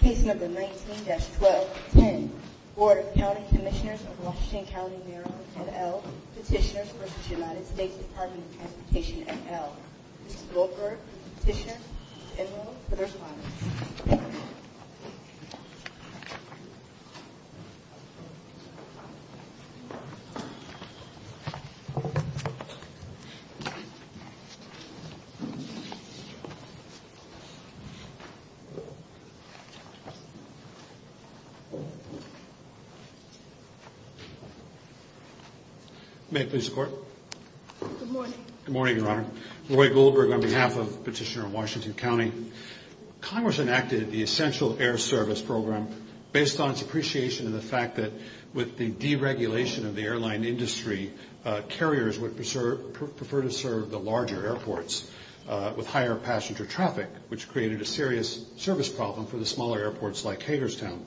Case number 19-1210, Board of County Commissioners of Washington County Bureau, et al. Petitioners v. United States Department of Transportation, et al. Ms. Goldberg, Petitioner, is enrolled for the response. May it please the Court. Good morning. Good morning, Your Honor. Roy Goldberg on behalf of Petitioner of Washington County. Congress enacted the Essential Air Service Program based on its appreciation of the fact that with the deregulation of the airline industry, carriers would prefer to serve the larger airports with higher passenger traffic, which created a serious service problem for the smaller airports like Hagerstown.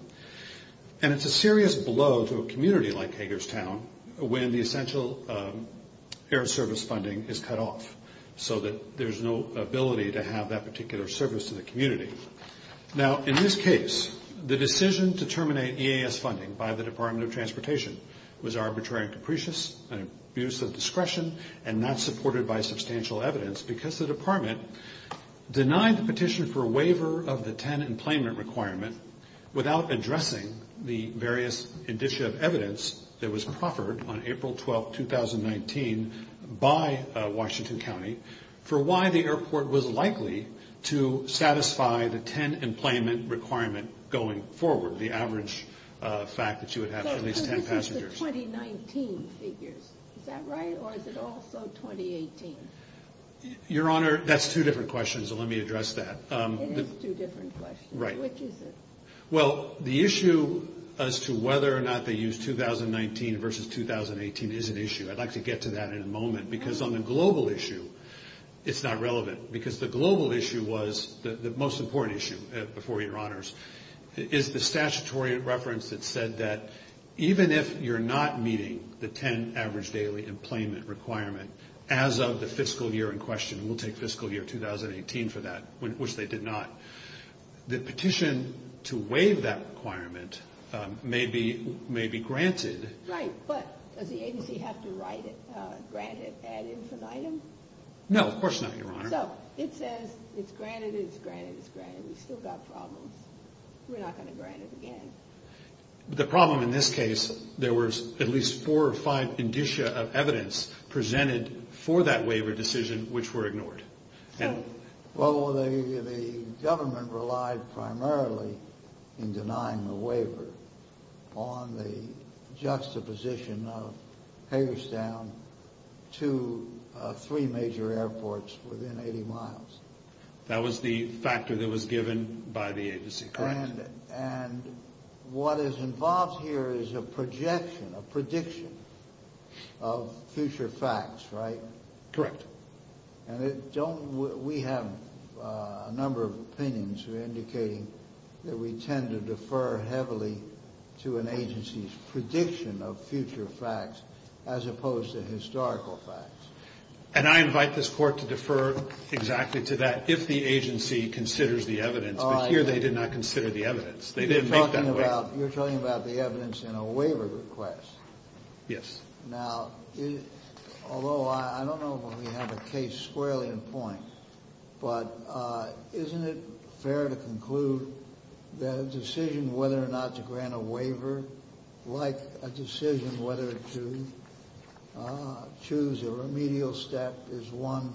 And it's a serious blow to a community like Hagerstown when the essential air service funding is cut off so that there's no ability to have that particular service to the community. Now, in this case, the decision to terminate EAS funding by the Department of Transportation was arbitrary and capricious, an abuse of discretion, and not supported by substantial evidence because the department denied the petition for a waiver of the tenant employment requirement without addressing the various indicia of evidence that was proffered on April 12, 2019, by Washington County for why the airport was likely to satisfy the tenant employment requirement going forward, the average fact that you would have for these ten passengers. So this is the 2019 figures, is that right, or is it also 2018? Your Honor, that's two different questions, so let me address that. It is two different questions. Right. Which is it? Well, the issue as to whether or not they use 2019 versus 2018 is an issue. I'd like to get to that in a moment because on the global issue, it's not relevant because the global issue was the most important issue before you, Your Honors, is the statutory reference that said that even if you're not meeting the ten average daily employment requirement as of the fiscal year in question, and we'll take fiscal year 2018 for that, which they did not, the petition to waive that requirement may be granted. Right, but does the agency have to grant it ad infinitum? No, of course not, Your Honor. So it says it's granted, it's granted, it's granted. We've still got problems. We're not going to grant it again. The problem in this case, there was at least four or five indicia of evidence presented for that waiver decision which were ignored. Well, the government relied primarily in denying the waiver on the juxtaposition of Hagerstown to three major airports within 80 miles. That was the factor that was given by the agency, correct. And what is involved here is a projection, a prediction of future facts, right? Correct. And we have a number of opinions who are indicating that we tend to defer heavily to an agency's prediction of future facts as opposed to historical facts. And I invite this Court to defer exactly to that if the agency considers the evidence, but here they did not consider the evidence. They didn't make that waiver. You're talking about the evidence in a waiver request. Yes. Now, although I don't know if we have a case squarely in point, but isn't it fair to conclude that a decision whether or not to grant a waiver, like a decision whether to choose a remedial step, is one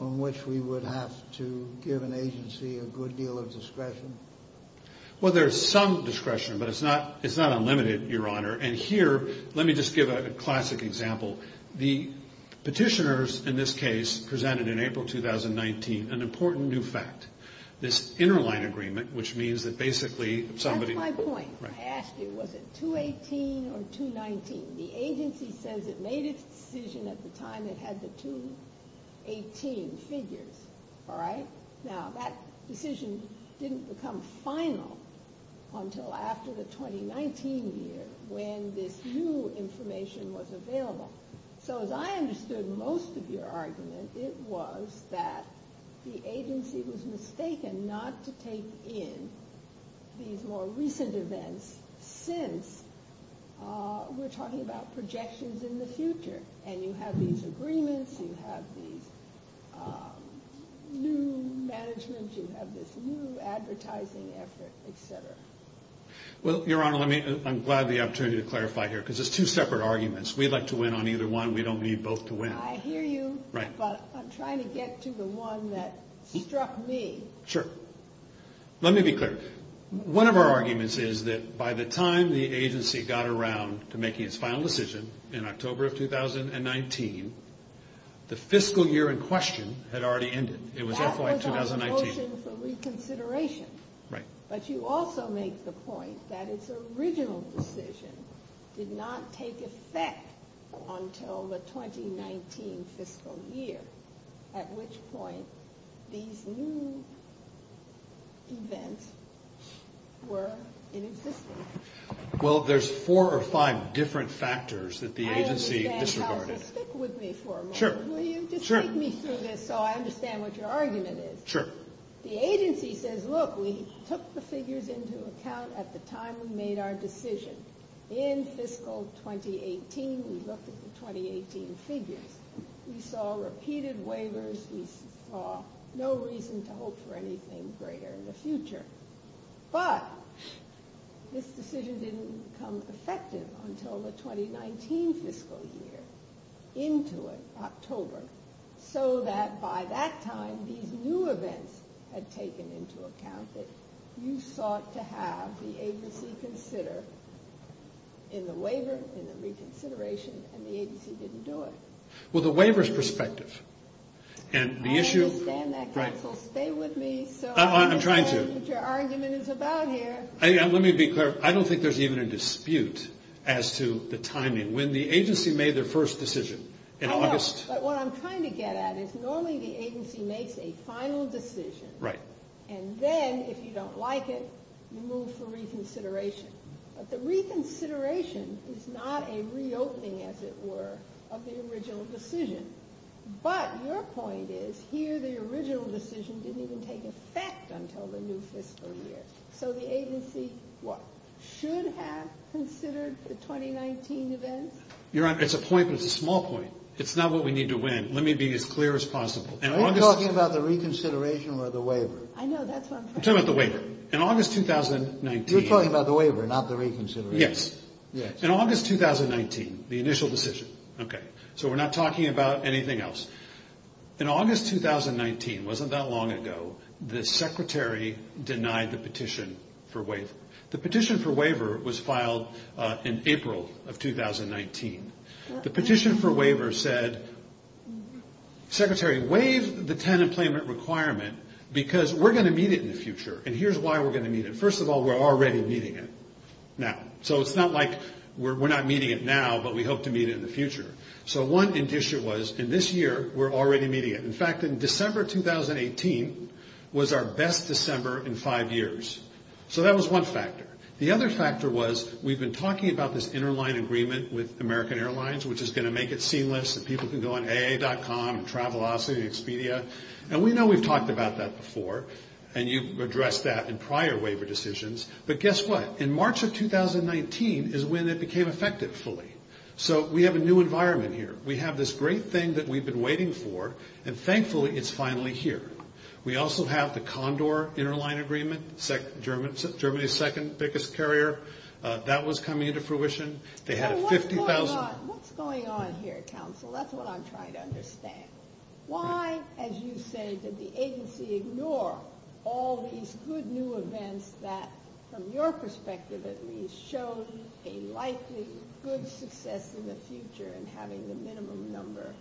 in which we would have to give an agency a good deal of discretion? Well, there is some discretion, but it's not unlimited, Your Honor. And here, let me just give a classic example. The petitioners in this case presented in April 2019 an important new fact, this interline agreement, which means that basically somebody- That's my point. I asked you, was it 218 or 219? The agency says it made its decision at the time it had the 218 figures, all right? Now, that decision didn't become final until after the 2019 year when this new information was available. So as I understood most of your argument, it was that the agency was mistaken not to take in these more recent events and you have these agreements, you have these new management, you have this new advertising effort, et cetera. Well, Your Honor, I'm glad the opportunity to clarify here because it's two separate arguments. We'd like to win on either one. We don't need both to win. I hear you, but I'm trying to get to the one that struck me. Sure. Let me be clear. One of our arguments is that by the time the agency got around to making its final decision in October of 2019, the fiscal year in question had already ended. It was FY 2019. That was our motion for reconsideration. Right. But you also make the point that its original decision did not take effect until the 2019 fiscal year, at which point these new events were in existence. Well, there's four or five different factors that the agency disregarded. I understand. Counsel, stick with me for a moment. Sure. Will you just take me through this so I understand what your argument is? Sure. The agency says, look, we took the figures into account at the time we made our decision. In fiscal 2018, we looked at the 2018 figures. We saw repeated waivers. We saw no reason to hope for anything greater in the future. But this decision didn't become effective until the 2019 fiscal year, into October, so that by that time, these new events had taken into account that you sought to have the agency consider in the waiver, in the reconsideration, and the agency didn't do it. Well, the waiver's perspective. I understand that. Counsel, stay with me. I'm trying to. I understand what your argument is about here. Let me be clear. I don't think there's even a dispute as to the timing. When the agency made their first decision in August. I know, but what I'm trying to get at is normally the agency makes a final decision. Right. And then, if you don't like it, you move for reconsideration. But the reconsideration is not a reopening, as it were, of the original decision. But your point is, here the original decision didn't even take effect until the new fiscal year. So the agency should have considered the 2019 events? Your Honor, it's a point, but it's a small point. It's not what we need to win. Let me be as clear as possible. Are you talking about the reconsideration or the waiver? I know, that's what I'm trying to get at. I'm talking about the waiver. In August 2019. You're talking about the waiver, not the reconsideration. Yes. In August 2019, the initial decision. Okay. So we're not talking about anything else. In August 2019, it wasn't that long ago, the Secretary denied the petition for waiver. The petition for waiver was filed in April of 2019. The petition for waiver said, Secretary, waive the tenant employment requirement because we're going to meet it in the future. And here's why we're going to meet it. First of all, we're already meeting it now. So it's not like we're not meeting it now, but we hope to meet it in the future. So one addition was, in this year, we're already meeting it. In fact, in December 2018 was our best December in five years. So that was one factor. The other factor was, we've been talking about this interline agreement with American Airlines, which is going to make it seamless. People can go on aa.com, Travelocity, Expedia. And we know we've talked about that before. And you've addressed that in prior waiver decisions. But guess what? In March of 2019 is when it became effective fully. So we have a new environment here. We have this great thing that we've been waiting for. And thankfully, it's finally here. We also have the Condor interline agreement. Germany's second biggest carrier. That was coming into fruition. They had 50,000. What's going on here, counsel? That's what I'm trying to understand. Why, as you say, did the agency ignore all these good new events that, from your perspective at least, showed a likely good success in the future in having the minimum number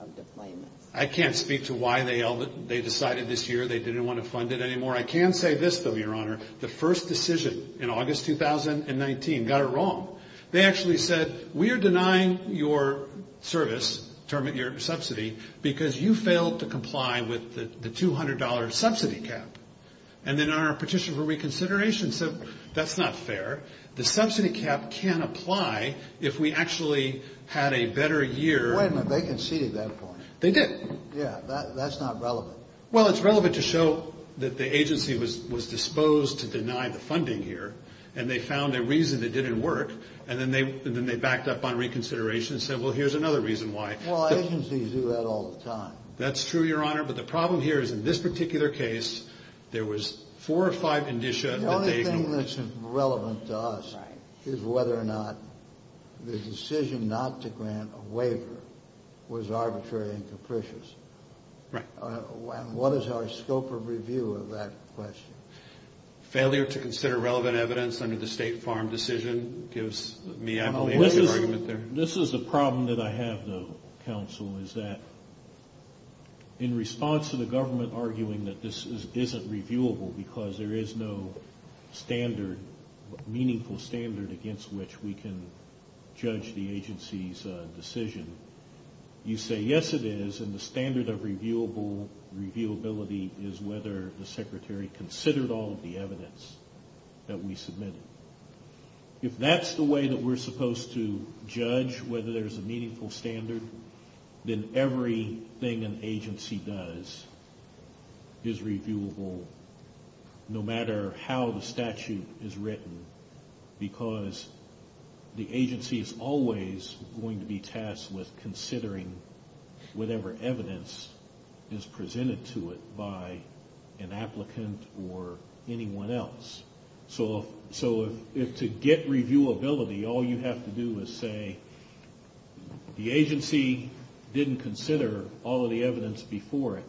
of deployments? I can't speak to why they decided this year they didn't want to fund it anymore. I can say this, though, Your Honor. The first decision in August 2019 got it wrong. They actually said, we are denying your service, your subsidy, because you failed to comply with the $200 subsidy cap. And then our petition for reconsideration said, that's not fair. The subsidy cap can apply if we actually had a better year. Wait a minute. They conceded that point. They did. Yeah. That's not relevant. Well, it's relevant to show that the agency was disposed to deny the funding here. And they found a reason it didn't work. And then they backed up on reconsideration and said, well, here's another reason why. Well, agencies do that all the time. That's true, Your Honor. But the problem here is, in this particular case, there was four or five indicia that they ignored. The only thing that's relevant to us is whether or not the decision not to grant a waiver was arbitrary and capricious. Right. And what is our scope of review of that question? Failure to consider relevant evidence under the State Farm decision gives me, I believe, a good argument there. This is a problem that I have, though, counsel, is that in response to the government arguing that this isn't reviewable because there is no standard, meaningful standard, against which we can judge the agency's decision, you say, yes, it is, and the standard of reviewability is whether the Secretary considered all of the evidence that we submitted. If that's the way that we're supposed to judge whether there's a meaningful standard, then everything an agency does is reviewable, no matter how the statute is written, because the agency is always going to be tasked with considering whatever evidence is presented to it by an applicant or anyone else. So if to get reviewability all you have to do is say the agency didn't consider all of the evidence before it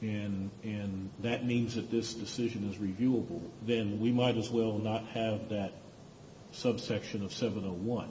and that means that this decision is reviewable, then we might as well not have that subsection of 701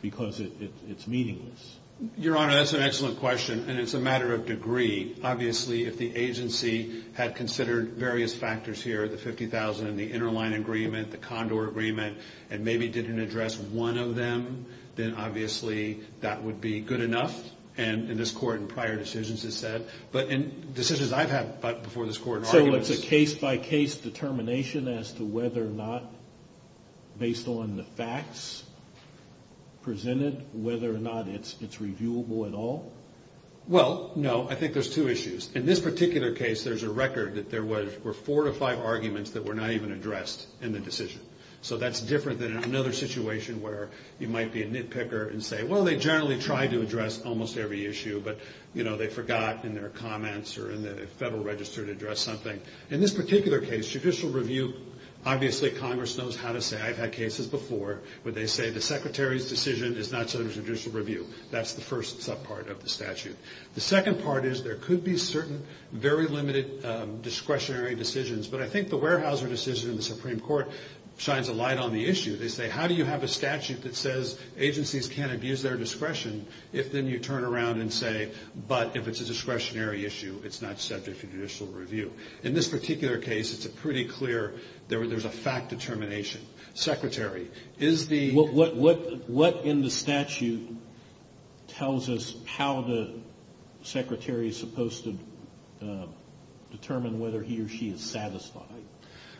because it's meaningless. Your Honor, that's an excellent question, and it's a matter of degree. Obviously, if the agency had considered various factors here, the 50,000 and the interline agreement, the Condor agreement, and maybe didn't address one of them, then obviously that would be good enough, and this Court in prior decisions has said, but in decisions I've had before this Court in arguments. So it's a case-by-case determination as to whether or not, based on the facts presented, whether or not it's reviewable at all? Well, no, I think there's two issues. In this particular case, there's a record that there were four to five arguments that were not even addressed in the decision. So that's different than another situation where you might be a nitpicker and say, well, they generally try to address almost every issue, but they forgot in their comments or in the Federal Register to address something. In this particular case, judicial review, obviously Congress knows how to say, I've had cases before, where they say the Secretary's decision is not subject to judicial review. That's the first subpart of the statute. The second part is there could be certain very limited discretionary decisions, but I think the Weyerhaeuser decision in the Supreme Court shines a light on the issue. They say, how do you have a statute that says agencies can't abuse their discretion, if then you turn around and say, but if it's a discretionary issue, it's not subject to judicial review. In this particular case, it's a pretty clear, there's a fact determination. What in the statute tells us how the Secretary is supposed to determine whether he or she is satisfied?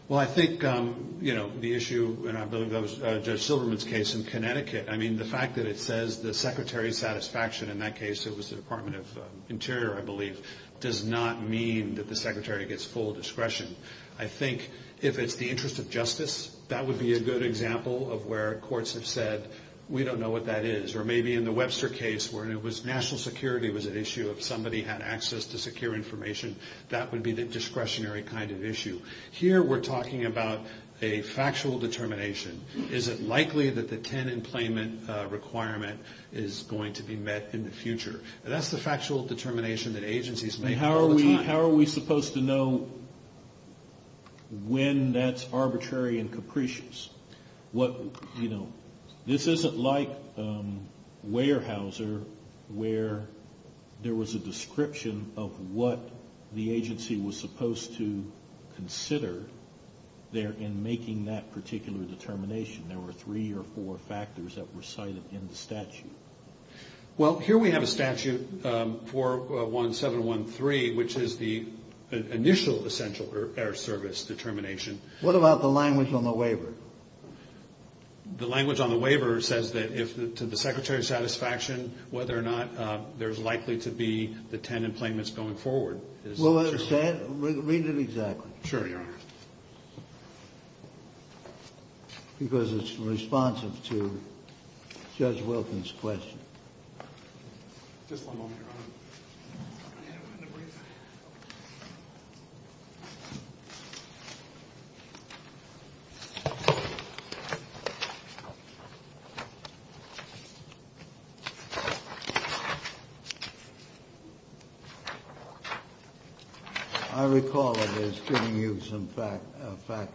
Well, I think the issue, and I believe that was Judge Silverman's case in Connecticut, I mean, the fact that it says the Secretary's satisfaction in that case, it was the Department of Interior, I believe, does not mean that the Secretary gets full discretion. I think if it's the interest of justice, that would be a good example of where courts have said, we don't know what that is. Or maybe in the Webster case, where it was national security was at issue, if somebody had access to secure information, that would be the discretionary kind of issue. Here, we're talking about a factual determination. Is it likely that the 10 employment requirement is going to be met in the future? That's the factual determination that agencies make all the time. How are we supposed to know when that's arbitrary and capricious? This isn't like Weyerhaeuser, where there was a description of what the agency was supposed to consider in making that particular determination. There were three or four factors that were cited in the statute. Well, here we have a statute, 41713, which is the initial essential error service determination. What about the language on the waiver? The language on the waiver says that to the Secretary's satisfaction, whether or not there's likely to be the 10 employments going forward. Read it exactly. Sure, Your Honor. Because it's responsive to Judge Wilkins' question. Just one moment, Your Honor. I recall it as giving you some fact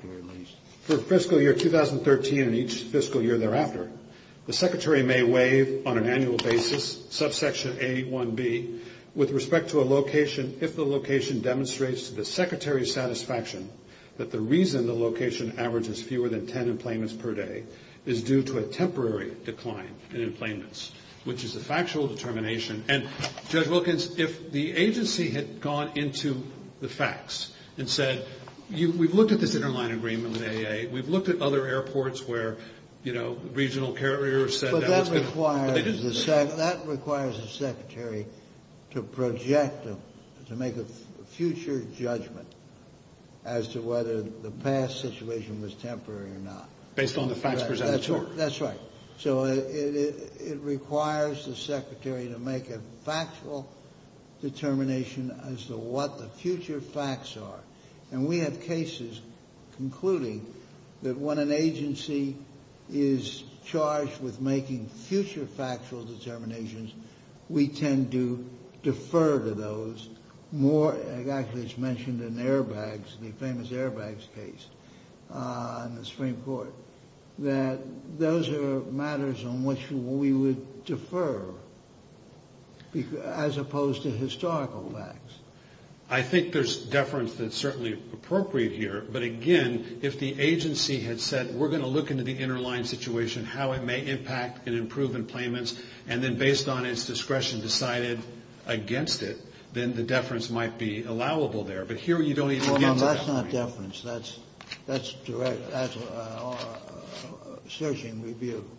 here, at least. For fiscal year 2013 and each fiscal year thereafter, the Secretary may waive on an annual basis subsection A1B with respect to a location if the location demonstrates to the Secretary's satisfaction that the reason the location averages fewer than 10 employments per day is due to a temporary decline in employments, which is a factual determination. And, Judge Wilkins, if the agency had gone into the facts and said, we've looked at this interline agreement with AA, we've looked at other airports where, you know, regional carriers said that. But that requires the Secretary to project, to make a future judgment as to whether the past situation was temporary or not. Based on the facts presented to her. That's right. So it requires the Secretary to make a factual determination as to what the future facts are. And we have cases concluding that when an agency is charged with making future factual determinations, we tend to defer to those more. Actually, it's mentioned in airbags, the famous airbags case in the Supreme Court, that those are matters on which we would defer as opposed to historical facts. I think there's deference that's certainly appropriate here. But, again, if the agency had said, we're going to look into the interline situation, how it may impact and improve employments, and then based on its discretion decided against it, then the deference might be allowable there. But here you don't even get to that point. Well, no, that's not deference. That's direct, that's searching review.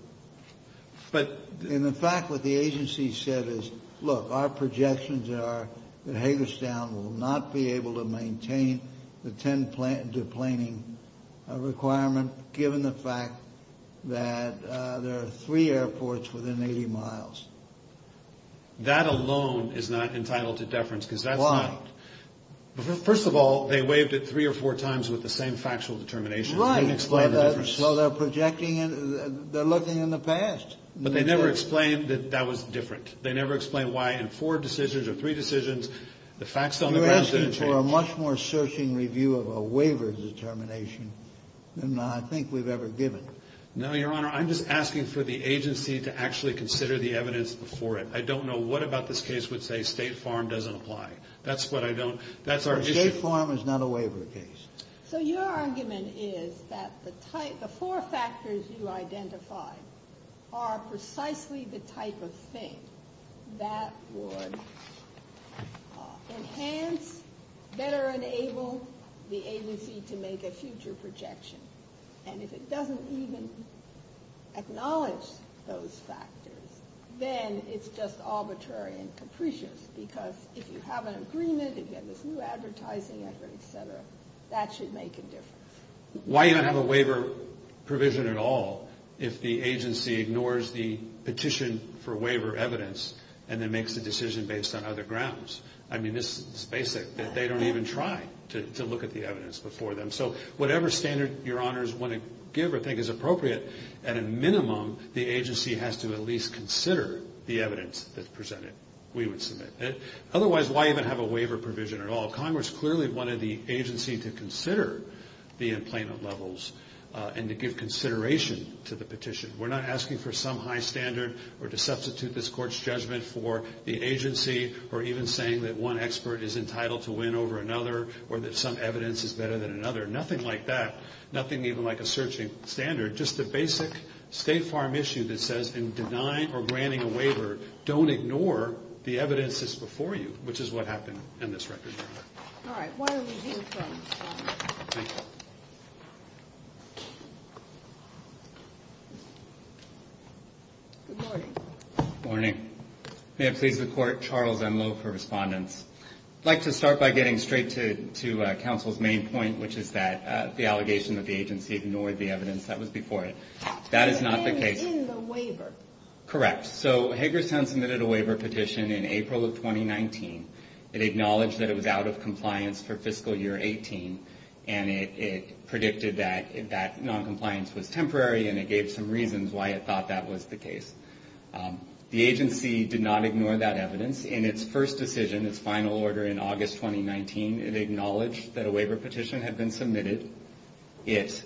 But. In fact, what the agency said is, look, our projections are that Hagerstown will not be able to maintain the 10-deplaning requirement given the fact that there are three airports within 80 miles. That alone is not entitled to deference because that's not. Why? First of all, they waived it three or four times with the same factual determination. Right. So they're projecting, they're looking in the past. But they never explained that that was different. They never explained why in four decisions or three decisions the facts on the ground didn't change. You're asking for a much more searching review of a waiver determination than I think we've ever given. No, Your Honor, I'm just asking for the agency to actually consider the evidence before it. I don't know what about this case would say State Farm doesn't apply. That's what I don't. That's our issue. State Farm is not a waiver case. So your argument is that the four factors you identified are precisely the type of thing that would enhance, better enable the agency to make a future projection. And if it doesn't even acknowledge those factors, then it's just arbitrary and capricious. Because if you have an agreement, if you have this new advertising effort, et cetera, that should make a difference. Why even have a waiver provision at all if the agency ignores the petition for waiver evidence and then makes a decision based on other grounds? I mean, this is basic. They don't even try to look at the evidence before them. So whatever standard Your Honors want to give or think is appropriate, at a minimum, the agency has to at least consider the evidence that's presented, we would submit. Otherwise, why even have a waiver provision at all? Congress clearly wanted the agency to consider the employment levels and to give consideration to the petition. We're not asking for some high standard or to substitute this court's judgment for the agency or even saying that one expert is entitled to win over another or that some evidence is better than another. Nothing like that. Just a basic State Farm issue that says in denying or granting a waiver, don't ignore the evidence that's before you, which is what happened in this record. All right. Why don't we hear from Charles? Thank you. Good morning. Good morning. May it please the Court, Charles Enloe for respondents. I'd like to start by getting straight to counsel's main point, which is that the allegation that the agency ignored the evidence that was before it. That is not the case. In the waiver. Correct. So Hager's Tent submitted a waiver petition in April of 2019. It acknowledged that it was out of compliance for fiscal year 18, and it predicted that noncompliance was temporary, and it gave some reasons why it thought that was the case. The agency did not ignore that evidence. In its first decision, its final order in August 2019, it acknowledged that a waiver petition had been submitted. It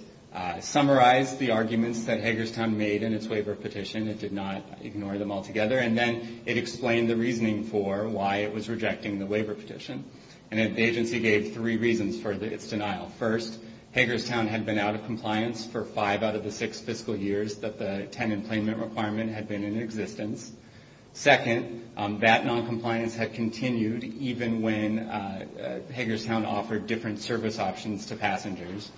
summarized the arguments that Hager's Tent made in its waiver petition. It did not ignore them altogether. And then it explained the reasoning for why it was rejecting the waiver petition. And the agency gave three reasons for its denial. First, Hager's Tent had been out of compliance for five out of the six fiscal years that the tenant employment requirement had been in existence. Second, that noncompliance had continued even when Hager's Tent offered different service options to passengers.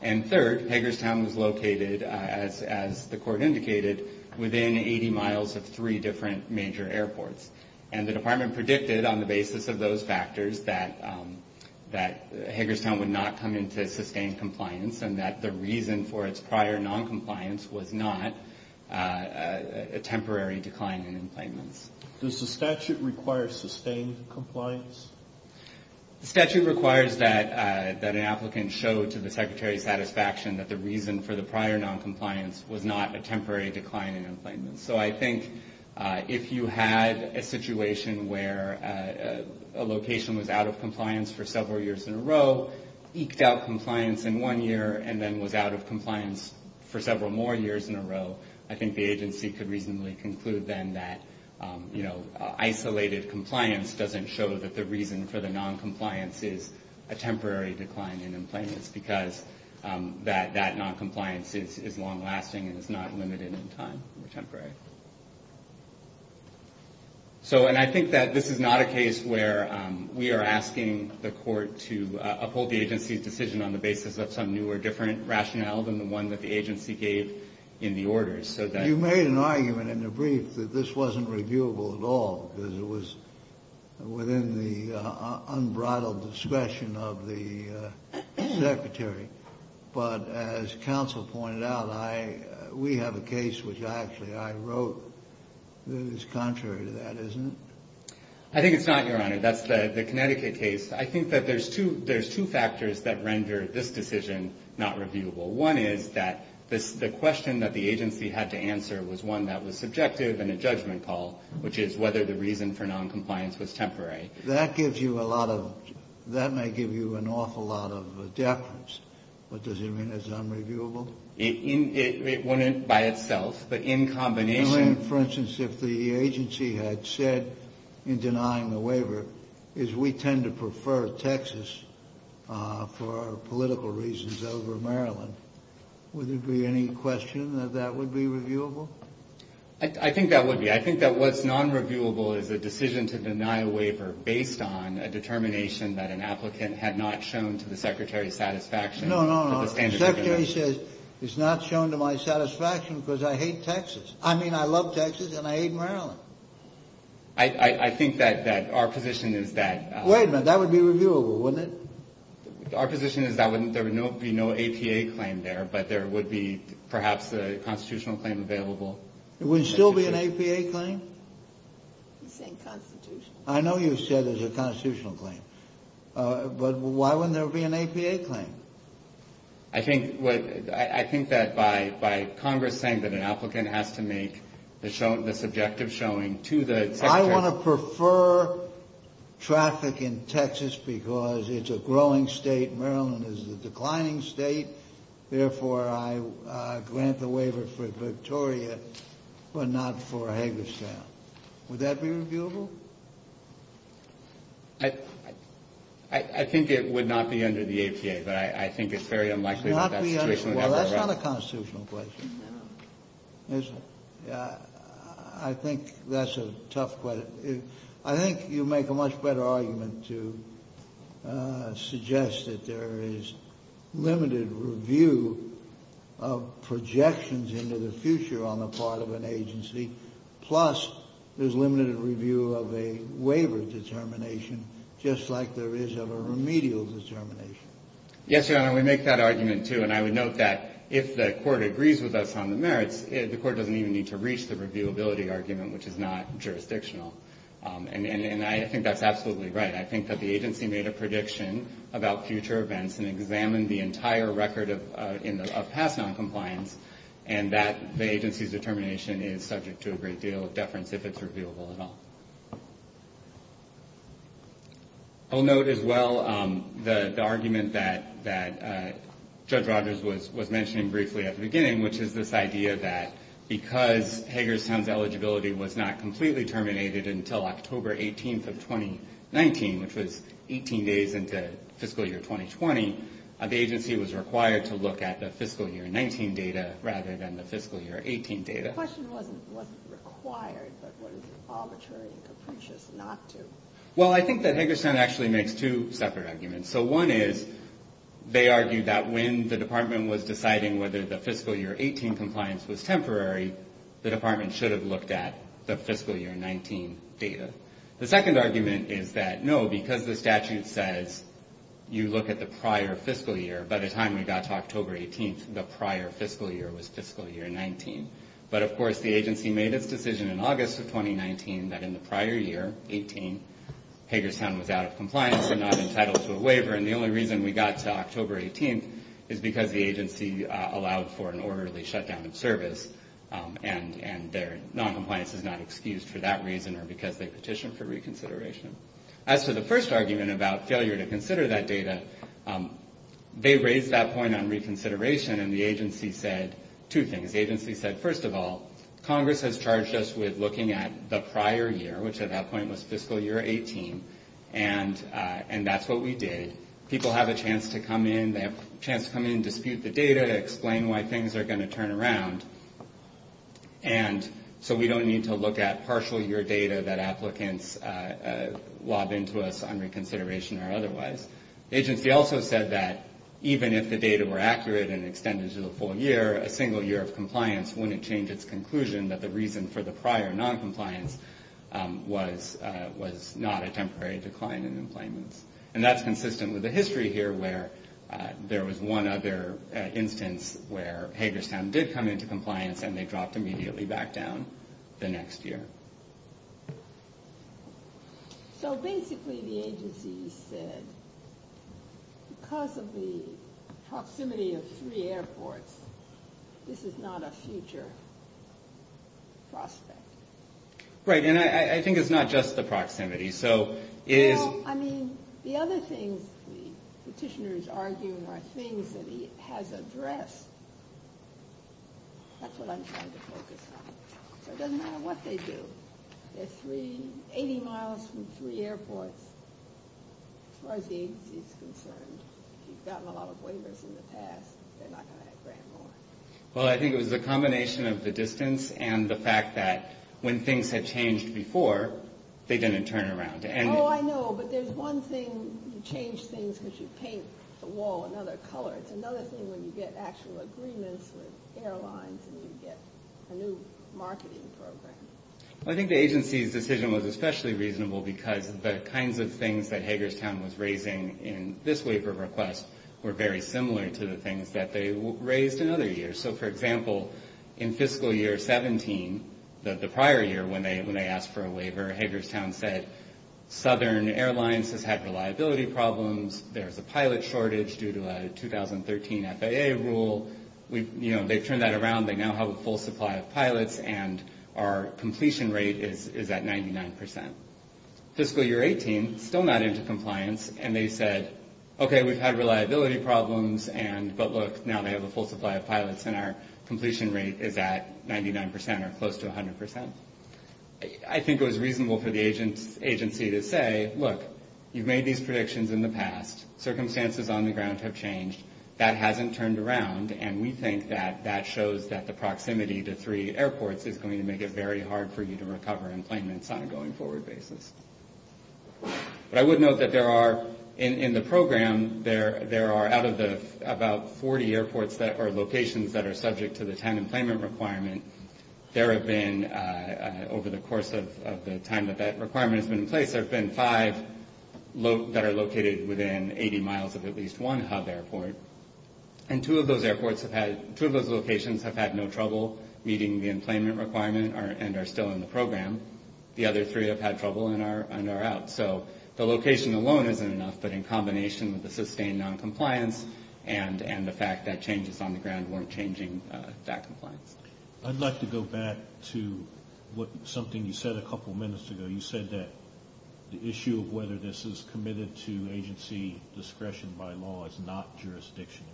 And third, Hager's Tent was located, as the court indicated, within 80 miles of three different major airports. And the department predicted on the basis of those factors that Hager's Tent would not come into sustained compliance and that the reason for its prior noncompliance was not a temporary decline in employment. Does the statute require sustained compliance? The statute requires that an applicant show to the secretary's satisfaction that the reason for the prior noncompliance was not a temporary decline in employment. So I think if you had a situation where a location was out of compliance for several years in a row, eked out compliance in one year, and then was out of compliance for several more years in a row, I think the agency could reasonably conclude then that, you know, isolated compliance doesn't show that the reason for the noncompliance is a temporary decline in employment. It's because that noncompliance is long-lasting and is not limited in time or temporary. So, and I think that this is not a case where we are asking the court to uphold the agency's decision on the basis of some new or different rationale than the one that the agency gave in the orders. You made an argument in the brief that this wasn't reviewable at all, because it was within the unbridled discretion of the secretary. But as counsel pointed out, we have a case which actually I wrote that is contrary to that, isn't it? I think it's not, Your Honor. That's the Connecticut case. I think that there's two factors that render this decision not reviewable. One is that the question that the agency had to answer was one that was subjective and a judgment call, which is whether the reason for noncompliance was temporary. That gives you a lot of, that may give you an awful lot of deference. But does it mean it's unreviewable? It wouldn't by itself, but in combination. You mean, for instance, if the agency had said in denying the waiver, is we tend to prefer Texas for political reasons over Maryland, would there be any question that that would be reviewable? I think that would be. I think that what's nonreviewable is a decision to deny a waiver based on a determination that an applicant had not shown to the secretary's satisfaction. No, no, no. The secretary says it's not shown to my satisfaction because I hate Texas. I mean, I love Texas and I hate Maryland. I think that our position is that. Wait a minute. That would be reviewable, wouldn't it? Our position is that there would be no APA claim there, but there would be perhaps a constitutional claim available. There would still be an APA claim? He's saying constitutional. I know you said there's a constitutional claim. But why wouldn't there be an APA claim? I think that by Congress saying that an applicant has to make the subjective showing to the secretary. I want to prefer traffic in Texas because it's a growing state. Maryland is a declining state. Therefore, I grant the waiver for Victoria but not for Hagerstown. Would that be reviewable? I think it would not be under the APA, but I think it's very unlikely that that situation would ever arise. Well, that's not a constitutional question. I think that's a tough question. I think you make a much better argument to suggest that there is limited review of projections into the future on the part of an agency, plus there's limited review of a waiver determination just like there is of a remedial determination. Yes, Your Honor. We make that argument, too. And I would note that if the court agrees with us on the merits, the court doesn't even need to reach the reviewability argument, which is not jurisdictional. And I think that's absolutely right. I think that the agency made a prediction about future events and examined the entire record of past noncompliance, and that the agency's determination is subject to a great deal of deference if it's reviewable at all. I'll note as well the argument that Judge Rogers was mentioning briefly at the beginning, which is this idea that because Hagerstown's eligibility was not completely terminated until October 18th of 2019, which was 18 days into fiscal year 2020, the agency was required to look at the fiscal year 19 data rather than the fiscal year 18 data. The question wasn't required, but was arbitrary and capricious not to. Well, I think that Hagerstown actually makes two separate arguments. So one is they argued that when the department was deciding whether the fiscal year 18 compliance was temporary, the department should have looked at the fiscal year 19 data. The second argument is that, no, because the statute says you look at the prior fiscal year, by the time we got to October 18th, the prior fiscal year was fiscal year 19. But, of course, the agency made its decision in August of 2019 that in the prior year, 18, Hagerstown was out of compliance and not entitled to a waiver. And the only reason we got to October 18th is because the agency allowed for an orderly shutdown of service, and their noncompliance is not excused for that reason or because they petitioned for reconsideration. As for the first argument about failure to consider that data, they raised that point on reconsideration, and the agency said two things. The agency said, first of all, Congress has charged us with looking at the prior year, which at that point was fiscal year 18, and that's what we did. People have a chance to come in. They have a chance to come in and dispute the data to explain why things are going to turn around, and so we don't need to look at partial year data that applicants lob into us on reconsideration or otherwise. The agency also said that even if the data were accurate and extended to the full year, a single year of compliance wouldn't change its conclusion that the reason for the prior noncompliance was not a temporary decline in employments. And that's consistent with the history here where there was one other instance where Hagerstown did come into compliance and they dropped immediately back down the next year. So basically the agency said because of the proximity of three airports, this is not a future prospect. Right, and I think it's not just the proximity. Well, I mean, the other things the petitioner is arguing are things that he has addressed. That's what I'm trying to focus on. So it doesn't matter what they do. They're 80 miles from three airports. As far as the agency is concerned, if you've gotten a lot of waivers in the past, they're not going to grant more. Well, I think it was the combination of the distance and the fact that when things had changed before, they didn't turn around. Oh, I know, but there's one thing. You change things because you paint the wall another color. It's another thing when you get actual agreements with airlines and you get a new marketing program. I think the agency's decision was especially reasonable because the kinds of things that Hagerstown was raising in this waiver request were very similar to the things that they raised in other years. So, for example, in fiscal year 17, the prior year when they asked for a waiver, Hagerstown said Southern Airlines has had reliability problems. There's a pilot shortage due to a 2013 FAA rule. They've turned that around. They now have a full supply of pilots, and our completion rate is at 99%. Fiscal year 18, still not into compliance, and they said, okay, we've had reliability problems, but look, now they have a full supply of pilots, and our completion rate is at 99% or close to 100%. I think it was reasonable for the agency to say, look, you've made these predictions in the past. Circumstances on the ground have changed. That hasn't turned around, and we think that that shows that the proximity to three airports is going to make it very hard for you to recover employments on a going-forward basis. But I would note that there are, in the program, there are, out of the about 40 airports or locations that are subject to the time employment requirement, there have been, over the course of the time that that requirement has been in place, there have been five that are located within 80 miles of at least one hub airport, and two of those locations have had no trouble meeting the employment requirement and are still in the program. The other three have had trouble and are out. So the location alone isn't enough, but in combination with the sustained noncompliance and the fact that changes on the ground weren't changing that compliance. I'd like to go back to something you said a couple of minutes ago. You said that the issue of whether this is committed to agency discretion by law is not jurisdictional.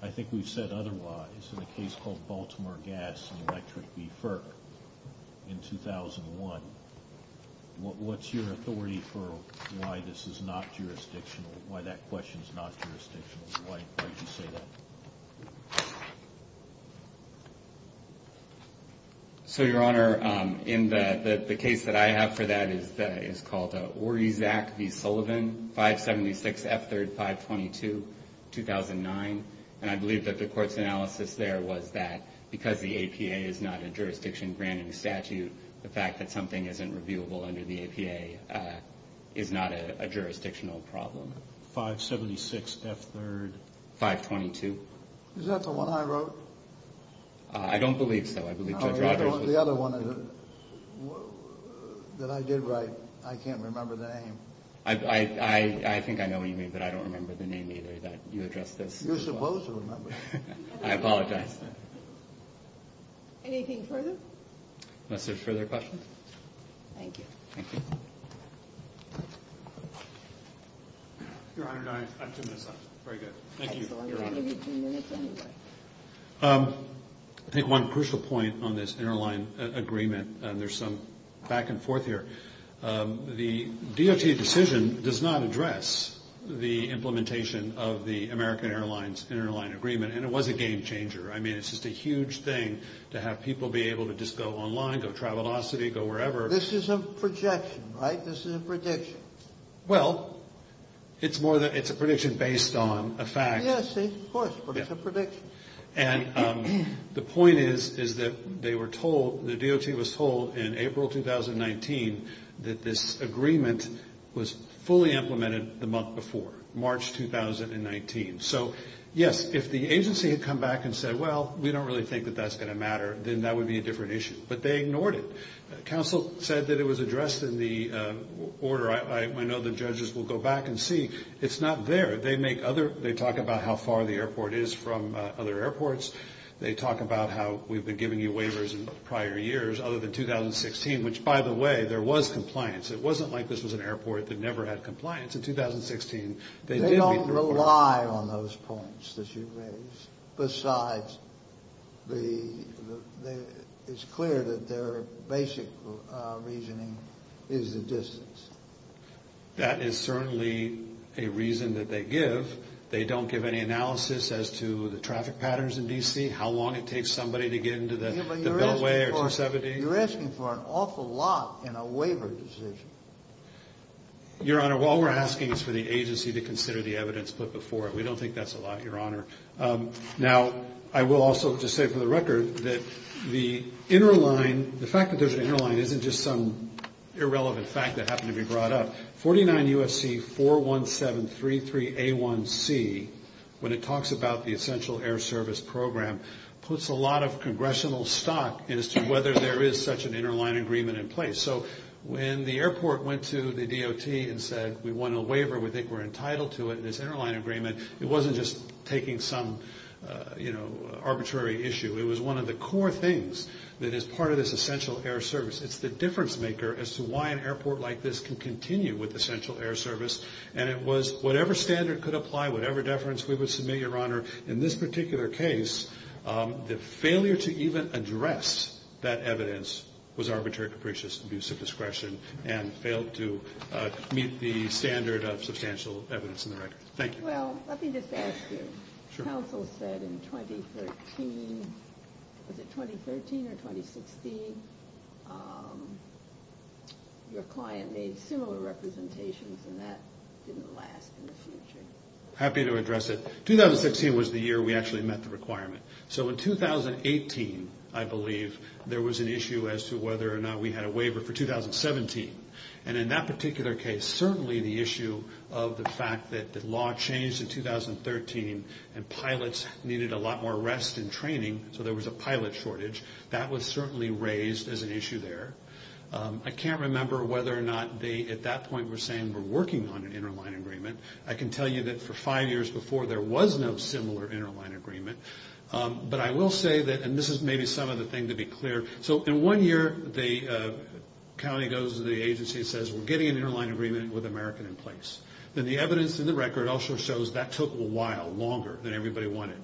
I think we've said otherwise in a case called Baltimore Gas and Electric BFIR in 2001. What's your authority for why this is not jurisdictional, why that question is not jurisdictional? Why did you say that? So, Your Honor, in the case that I have for that is called Orizac v. Sullivan, 576 F3-522-2009, and I believe that the court's analysis there was that because the APA is not a jurisdiction-granted statute, the fact that something isn't reviewable under the APA is not a jurisdictional problem. 576 F3? 522. Is that the one I wrote? I don't believe so. I believe Judge Rodgers did. The other one that I did write, I can't remember the name. I think I know what you mean, but I don't remember the name either that you addressed this. You're supposed to remember. I apologize. Anything further? Unless there's further questions? Thank you. Thank you. Your Honor, I have two minutes left. Very good. Thank you, Your Honor. You have two minutes anyway. I think one crucial point on this interline agreement, and there's some back and forth here, the DOT decision does not address the implementation of the American Airlines interline agreement, and it was a game changer. I mean, it's just a huge thing to have people be able to just go online, go Travelocity, go wherever. This is a projection, right? This is a prediction. Well, it's a prediction based on a fact. Yes, of course, but it's a prediction. And the point is, is that they were told, the DOT was told in April 2019, that this agreement was fully implemented the month before, March 2019. So, yes, if the agency had come back and said, well, we don't really think that that's going to matter, then that would be a different issue. But they ignored it. Counsel said that it was addressed in the order. I know the judges will go back and see. It's not there. They make other, they talk about how far the airport is from other airports. They talk about how we've been giving you waivers in prior years other than 2016, which, by the way, there was compliance. It wasn't like this was an airport that never had compliance in 2016. They don't rely on those points that you raised besides the, it's clear that their basic reasoning is the distance. That is certainly a reason that they give. They don't give any analysis as to the traffic patterns in D.C., how long it takes somebody to get into the beltway or 270. You're asking for an awful lot in a waiver decision. Your Honor, all we're asking is for the agency to consider the evidence put before it. We don't think that's a lot, Your Honor. Now, I will also just say for the record that the interline, the fact that there's an interline isn't just some irrelevant fact that happened to be brought up. 49 UFC 41733A1C, when it talks about the essential air service program, puts a lot of congressional stock as to whether there is such an interline agreement in place. So when the airport went to the DOT and said we want a waiver, we think we're entitled to it, this interline agreement, it wasn't just taking some, you know, arbitrary issue. It was one of the core things that is part of this essential air service. It's the difference maker as to why an airport like this can continue with essential air service. And it was whatever standard could apply, whatever deference we would submit, Your Honor, in this particular case, the failure to even address that evidence was arbitrary capricious abuse of discretion and failed to meet the standard of substantial evidence in the record. Thank you. Well, let me just ask you. Sure. Counsel said in 2013, was it 2013 or 2016, your client made similar representations and that didn't last in the future. Happy to address it. 2016 was the year we actually met the requirement. So in 2018, I believe, there was an issue as to whether or not we had a waiver for 2017. And in that particular case, certainly the issue of the fact that the law changed in 2013 and pilots needed a lot more rest and training, so there was a pilot shortage, that was certainly raised as an issue there. I can't remember whether or not they at that point were saying we're working on an interline agreement. I can tell you that for five years before, there was no similar interline agreement. But I will say that, and this is maybe some of the things to be clear. So in one year, the county goes to the agency and says we're getting an interline agreement with America in place. And the evidence in the record also shows that took a while, longer than everybody wanted,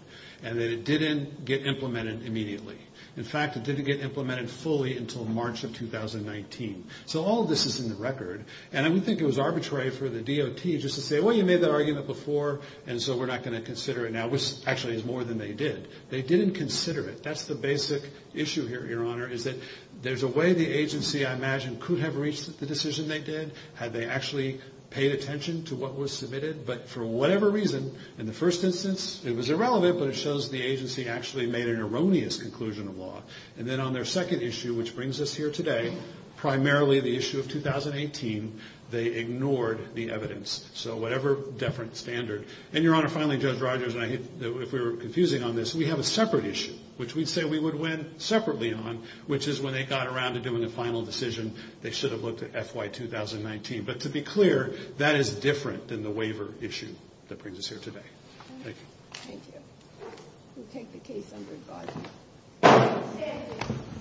and that it didn't get implemented immediately. In fact, it didn't get implemented fully until March of 2019. So all of this is in the record. And I would think it was arbitrary for the DOT just to say, well, you made that argument before, and so we're not going to consider it now, which actually is more than they did. They didn't consider it. That's the basic issue here, Your Honor, is that there's a way the agency, I imagine, could have reached the decision they did had they actually paid attention to what was submitted. But for whatever reason, in the first instance, it was irrelevant, but it shows the agency actually made an erroneous conclusion of law. And then on their second issue, which brings us here today, primarily the issue of 2018, they ignored the evidence. So whatever deferent standard. And, Your Honor, finally, Judge Rogers and I, if we were confusing on this, we have a separate issue, which we'd say we would win separately on, which is when they got around to doing the final decision, they should have looked at FY 2019. But to be clear, that is different than the waiver issue that brings us here today. Thank you. Thank you. We'll take the case under review. Thank you.